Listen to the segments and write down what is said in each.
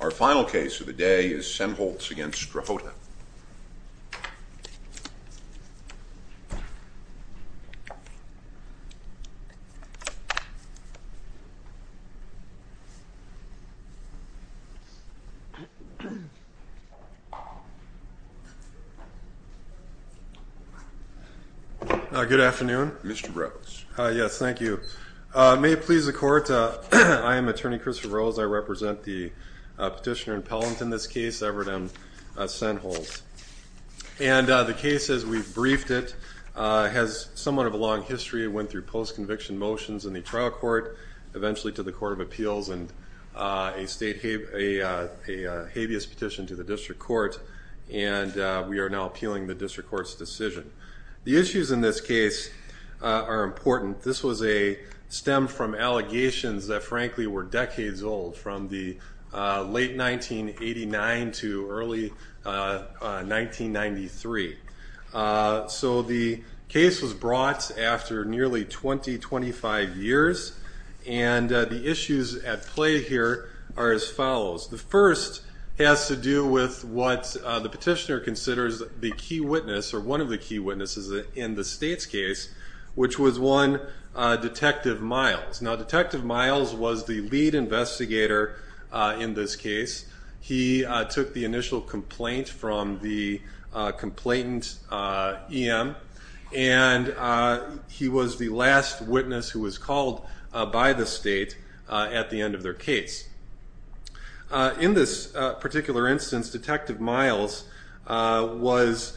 Our final case of the day is Sennholz v. Strahota. Good afternoon. Mr. Rose. Yes, thank you. May it please the Court, I am Attorney Christopher Rose. I represent the petitioner in Pellant in this case, Everett M. Sennholz. And the case, as we've briefed it, has somewhat of a long history. It went through post-conviction motions in the trial court, eventually to the Court of Appeals, and a habeas petition to the District Court. And we are now appealing the District Court's decision. The issues in this case are important. This was a stem from allegations that, frankly, were decades old, from the late 1989 to early 1993. So the case was brought after nearly 20, 25 years. And the issues at play here are as follows. The first has to do with what the petitioner considers the key witness, or one of the key witnesses in the State's case, which was one, Detective Miles. Now, Detective Miles was the lead investigator in this case. He took the initial complaint from the complainant, E.M., and he was the last witness who was called by the State at the end of their case. In this particular instance, Detective Miles was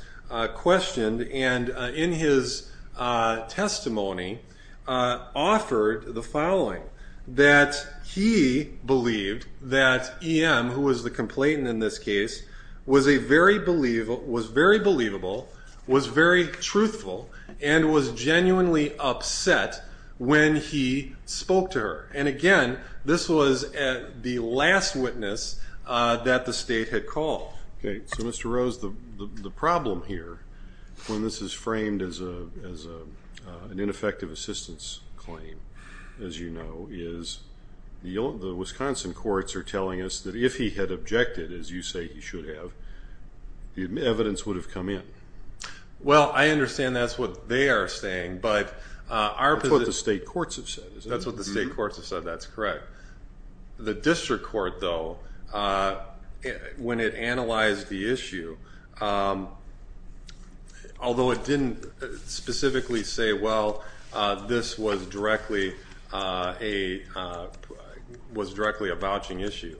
questioned, and in his testimony offered the following, that he believed that E.M., who was the complainant in this case, was very believable, was very truthful, and was genuinely upset when he spoke to her. And, again, this was the last witness that the State had called. Okay. So, Mr. Rose, the problem here, when this is framed as an ineffective assistance claim, as you know, is the Wisconsin courts are telling us that if he had objected, as you say he should have, the evidence would have come in. Well, I understand that's what they are saying, but our position – That's what the State courts have said, isn't it? That's what the State courts have said. That's correct. The district court, though, when it analyzed the issue, although it didn't specifically say, well, this was directly a vouching issue,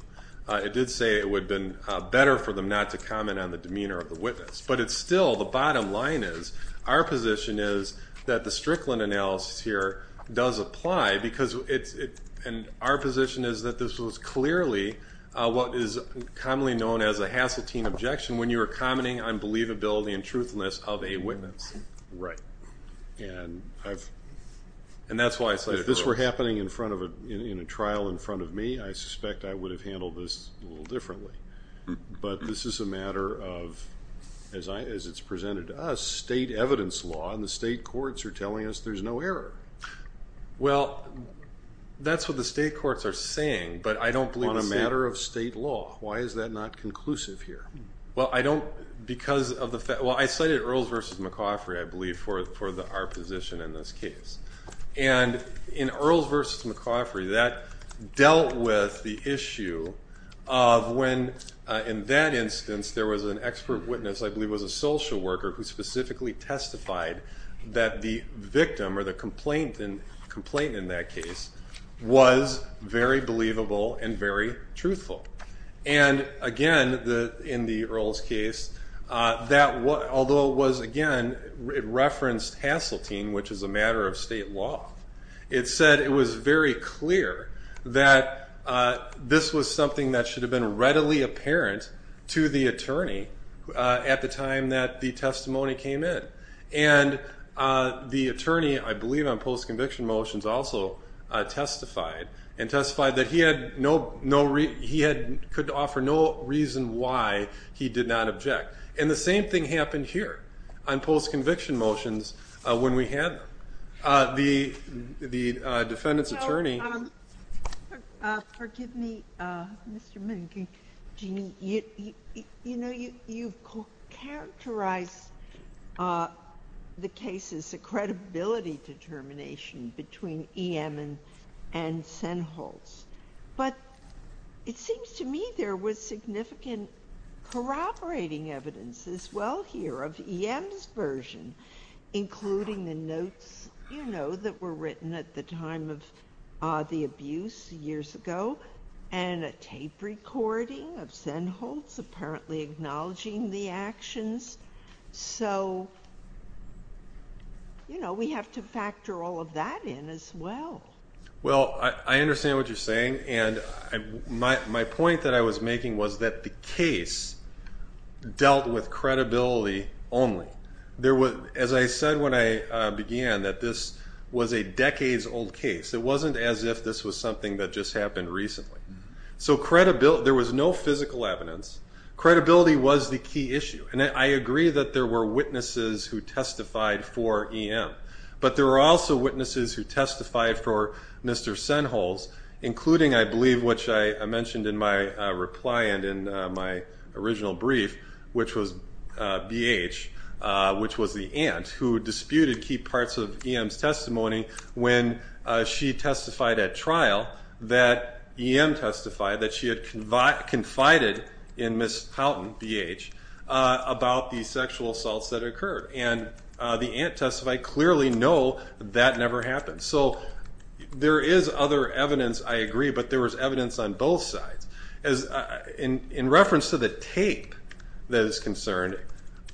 it did say it would have been better for them not to comment on the demeanor of the witness. But it's still, the bottom line is, our position is that the Strickland analysis here does apply, because it's – and our position is that this was clearly what is commonly known as a Hassettine objection when you were commenting on believability and truthfulness of a witness. Right. And I've – And that's why I cited Rose. If this were happening in front of a – in a trial in front of me, I suspect I would have handled this a little differently. But this is a matter of, as it's presented to us, State evidence law, and the State courts are telling us there's no error. Well, that's what the State courts are saying, but I don't believe the State – On a matter of State law. Why is that not conclusive here? Well, I don't – because of the – well, I cited Earls v. McCoffrey, I believe, for our position in this case. And in Earls v. McCoffrey, that dealt with the issue of when, in that instance, there was an expert witness, I believe it was a social worker, who specifically testified that the victim, or the complainant in that case, was very believable and very truthful. And, again, in the Earls case, that – although it was, again, it referenced Hassettine, which is a matter of State law. It said it was very clear that this was something that should have been readily apparent to the attorney at the time that the testimony came in. And the attorney, I believe, on post-conviction motions also testified, and testified that he had no – he could offer no reason why he did not object. And the same thing happened here on post-conviction motions when we had the defendant's attorney. So, forgive me, Mr. Mink. Jeanne, you know, you've characterized the case as a credibility determination between E.M. and Sennholz. But it seems to me there was significant corroborating evidence as well here of E.M.'s version, including the notes, you know, that were written at the time of the abuse years ago, and a tape recording of Sennholz apparently acknowledging the actions. So, you know, we have to factor all of that in as well. Well, I understand what you're saying. And my point that I was making was that the case dealt with credibility only. As I said when I began, that this was a decades-old case. It wasn't as if this was something that just happened recently. So there was no physical evidence. Credibility was the key issue. And I agree that there were witnesses who testified for E.M., but there were also witnesses who testified for Mr. Sennholz, including, I believe, which I mentioned in my reply and in my original brief, which was B.H., which was the aunt, who disputed key parts of E.M.'s testimony when she testified at trial that E.M. testified that she had confided in Ms. Houghton, B.H., about the sexual assaults that occurred. And the aunt testified, clearly, no, that never happened. So there is other evidence, I agree, but there was evidence on both sides. In reference to the tape that is concerned,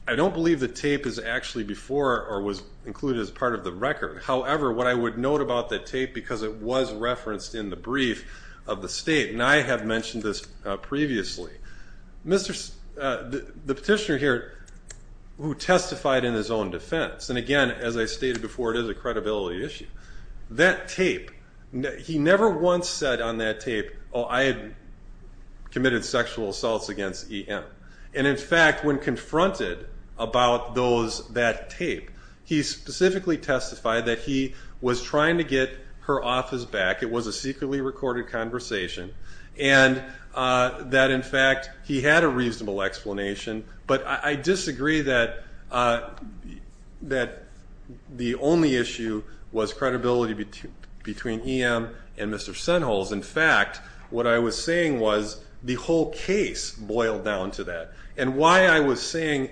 I don't believe the tape is actually before or was included as part of the record. However, what I would note about the tape, because it was referenced in the brief of the state, and I have mentioned this previously, the petitioner here who testified in his own defense, and again, as I stated before, it is a credibility issue, that tape, he never once said on that tape, oh, I had committed sexual assaults against E.M. And, in fact, when confronted about that tape, he specifically testified that he was trying to get her office back, it was a secretly recorded conversation, and that, in fact, he had a reasonable explanation. But I disagree that the only issue was credibility between E.M. and Mr. Senholz. In fact, what I was saying was the whole case boiled down to that. And why I was saying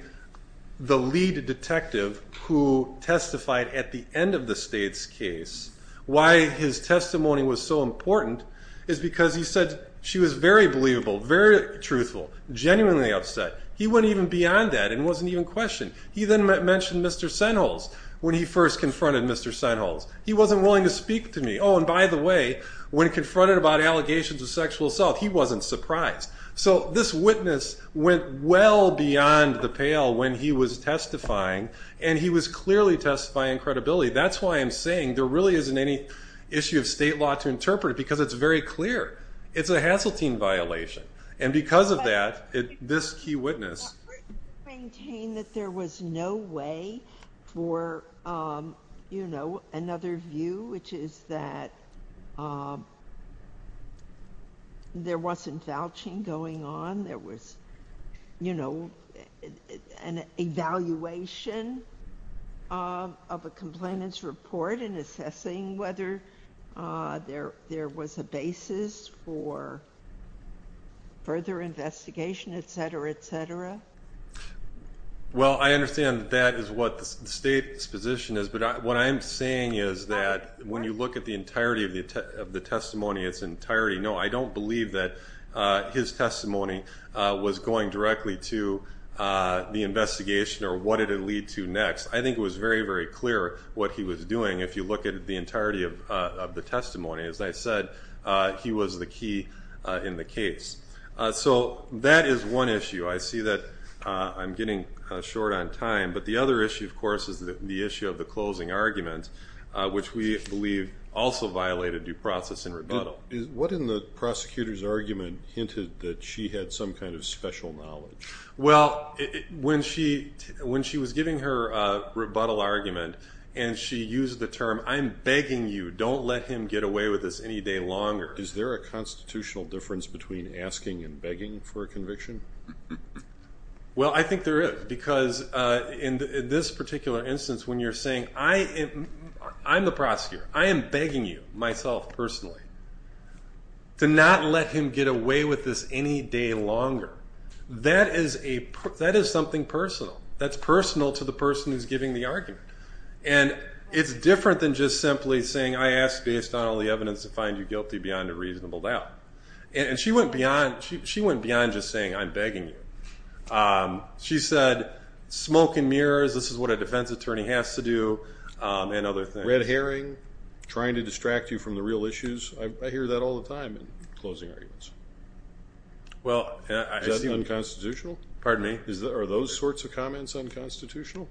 the lead detective who testified at the end of the state's case, why his testimony was so important is because he said she was very believable, very truthful, genuinely upset. He went even beyond that and wasn't even questioned. He then mentioned Mr. Senholz when he first confronted Mr. Senholz. He wasn't willing to speak to me. Oh, and by the way, when confronted about allegations of sexual assault, he wasn't surprised. So this witness went well beyond the pale when he was testifying, and he was clearly testifying credibility. That's why I'm saying there really isn't any issue of state law to interpret it because it's very clear. It's a Haseltine violation. And because of that, this key witness. Maintain that there was no way for, you know, another view, which is that there wasn't vouching going on. There was, you know, an evaluation of a complainant's report and assessing whether there was a basis for further investigation, et cetera, et cetera. Well, I understand that that is what the state's position is, but what I'm saying is that when you look at the entirety of the testimony, its entirety, no, I don't believe that his testimony was going directly to the investigation or what did it lead to next. I think it was very, very clear what he was doing. If you look at the entirety of the testimony, as I said, he was the key in the case. So that is one issue. I see that I'm getting short on time. But the other issue, of course, is the issue of the closing argument, which we believe also violated due process and rebuttal. What in the prosecutor's argument hinted that she had some kind of special knowledge? Well, when she was giving her rebuttal argument and she used the term, I'm begging you, don't let him get away with this any day longer. Is there a constitutional difference between asking and begging for a conviction? Well, I think there is, because in this particular instance, when you're saying, I'm the prosecutor. I am begging you, myself personally, to not let him get away with this any day longer. That is something personal. That's personal to the person who's giving the argument. And it's different than just simply saying, I ask based on all the evidence to find you guilty beyond a reasonable doubt. And she went beyond just saying, I'm begging you. She said, smoke and mirrors, this is what a defense attorney has to do, and other things. Red herring, trying to distract you from the real issues. I hear that all the time in closing arguments. Is that unconstitutional? Pardon me? Are those sorts of comments unconstitutional?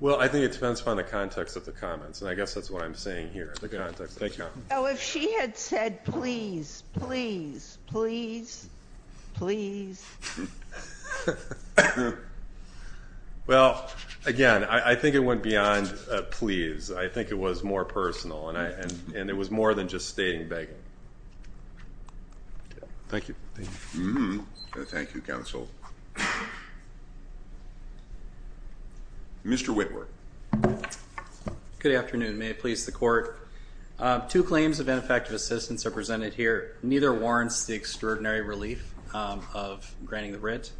Well, I think it depends upon the context of the comments, and I guess that's what I'm saying here, the context of the comments. Oh, if she had said, please, please, please, please. Well, again, I think it went beyond please. I think it was more personal, and it was more than just stating begging. Thank you. Thank you, counsel. Mr. Whitworth. Good afternoon. May it please the Court. Two claims of ineffective assistance are presented here. Neither warrants the extraordinary relief of granting the writ.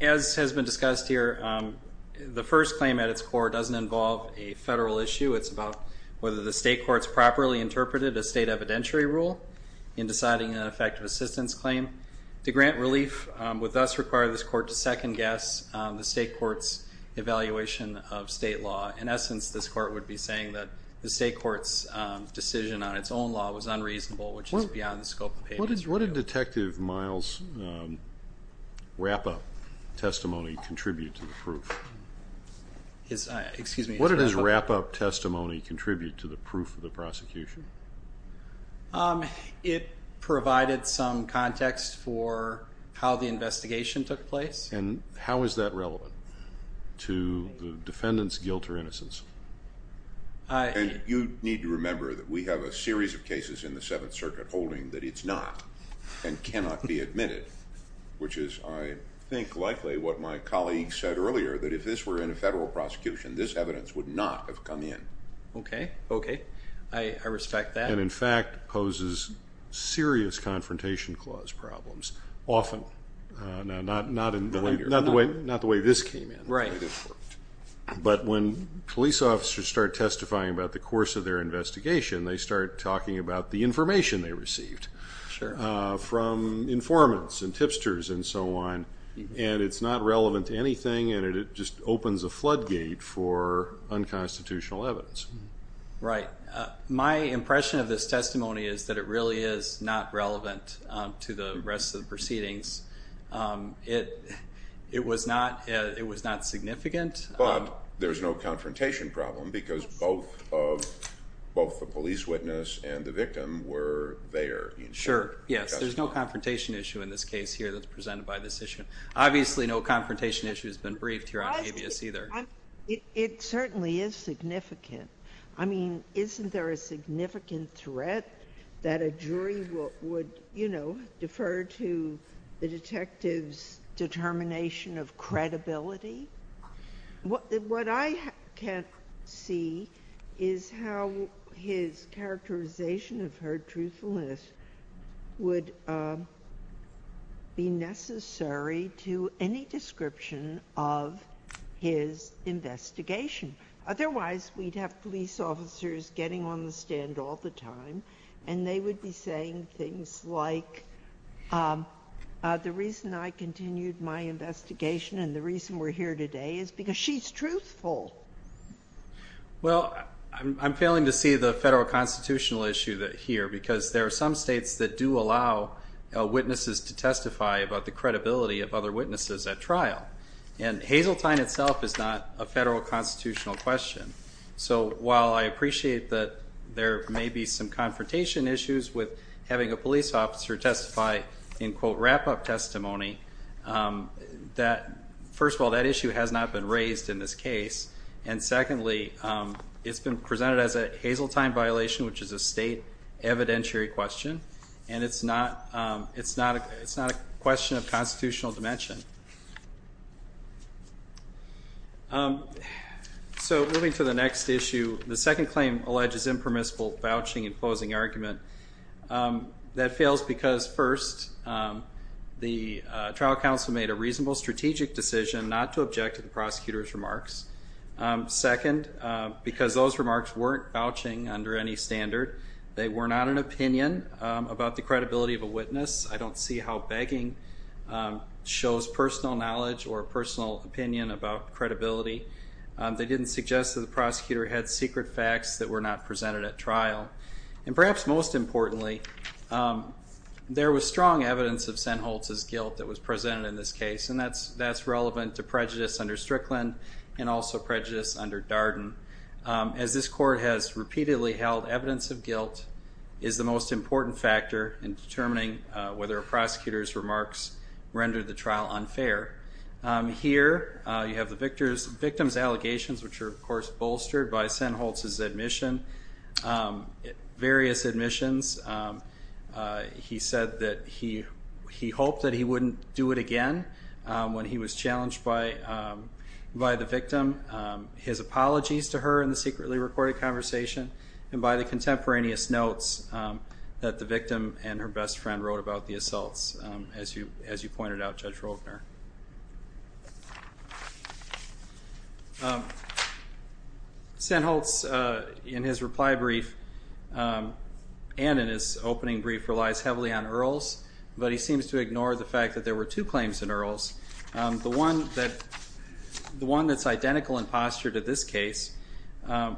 As has been discussed here, the first claim at its core doesn't involve a federal issue. It's about whether the state courts properly interpreted a state evidentiary rule in deciding an ineffective assistance claim. To grant relief would thus require this Court to second-guess the state court's evaluation of state law. In essence, this Court would be saying that the state court's decision on its own law was unreasonable, which is beyond the scope of payments. What did Detective Miles' wrap-up testimony contribute to the proof? Excuse me? What did his wrap-up testimony contribute to the proof of the prosecution? It provided some context for how the investigation took place. And how is that relevant to the defendant's guilt or innocence? You need to remember that we have a series of cases in the Seventh Circuit holding that it's not and cannot be admitted, which is, I think, likely what my colleague said earlier, that if this were in a federal prosecution, this evidence would not have come in. Okay, okay. I respect that. And, in fact, poses serious confrontation clause problems, often. Not the way this came in. But when police officers start testifying about the course of their investigation, they start talking about the information they received from informants and tipsters and so on. And it's not relevant to anything, and it just opens a floodgate for unconstitutional evidence. Right. My impression of this testimony is that it really is not relevant to the rest of the proceedings. It was not significant. But there's no confrontation problem because both the police witness and the victim were there. Sure, yes. There's no confrontation issue in this case here that's presented by this issue. Obviously, no confrontation issue has been briefed here on habeas either. It certainly is significant. I mean, isn't there a significant threat that a jury would, you know, defer to the detective's determination of credibility? What I can't see is how his characterization of her truthfulness would be necessary to any description of his investigation. Otherwise, we'd have police officers getting on the stand all the time, and they would be saying things like, the reason I continued my investigation and the reason we're here today is because she's truthful. Well, I'm failing to see the Federal constitutional issue here because there are some states that do allow witnesses to testify about the credibility of other witnesses at trial. And Hazeltine itself is not a Federal constitutional question. So while I appreciate that there may be some confrontation issues with having a police officer testify in, quote, wrap-up testimony, first of all, that issue has not been raised in this case. And secondly, it's been presented as a Hazeltine violation, which is a state evidentiary question, and it's not a question of constitutional dimension. So moving to the next issue, the second claim alleges impermissible vouching and closing argument. That fails because, first, the trial counsel made a reasonable strategic decision not to object to the prosecutor's remarks. Second, because those remarks weren't vouching under any standard. They were not an opinion about the credibility of a witness. I don't see how begging shows personal knowledge or personal opinion about credibility. They didn't suggest that the prosecutor had secret facts that were not presented at trial. And perhaps most importantly, there was strong evidence of Senholtz's guilt that was presented in this case, and that's relevant to prejudice under Strickland and also prejudice under Darden. As this court has repeatedly held, evidence of guilt is the most important factor in determining whether a prosecutor's remarks rendered the trial unfair. Here you have the victim's allegations, which are, of course, bolstered by Senholtz's admission, various admissions. He said that he hoped that he wouldn't do it again when he was challenged by the victim. His apologies to her in the secretly recorded conversation, and by the contemporaneous notes that the victim and her best friend wrote about the assaults, as you pointed out, Judge Rogner. Senholtz, in his reply brief and in his opening brief, relies heavily on Earls, but he seems to ignore the fact that there were two claims in Earls. The one that's identical in posture to this case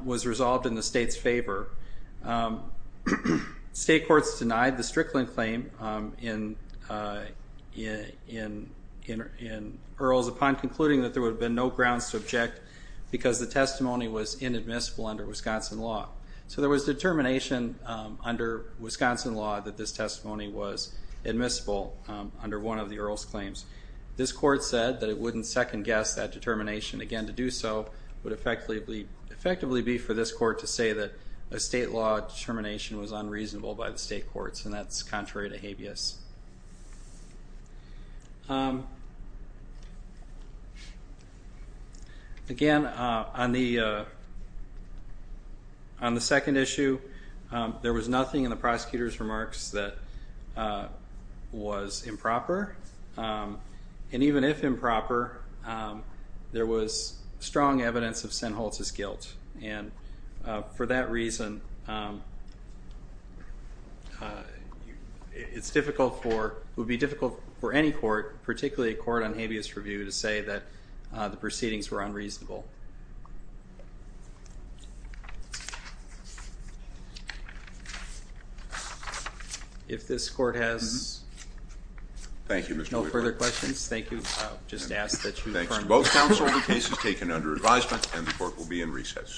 was resolved in the state's favor. State courts denied the Strickland claim in Earls upon concluding that there would have been no grounds to object because the testimony was inadmissible under Wisconsin law. So there was determination under Wisconsin law that this testimony was admissible under one of the Earls claims. This court said that it wouldn't second-guess that determination. Again, to do so would effectively be for this court to say that a state law determination was unreasonable by the state courts, and that's contrary to habeas. Again, on the second issue, there was nothing in the prosecutor's remarks that was improper. And even if improper, there was strong evidence of Senholtz's guilt. And for that reason, it would be difficult for any court, particularly a court on habeas review, to say that the proceedings were unreasonable. If this court has no further questions, thank you. I'll just ask that you confirm. Thanks to both counsel. The case is taken under advisement, and the court will be in recess.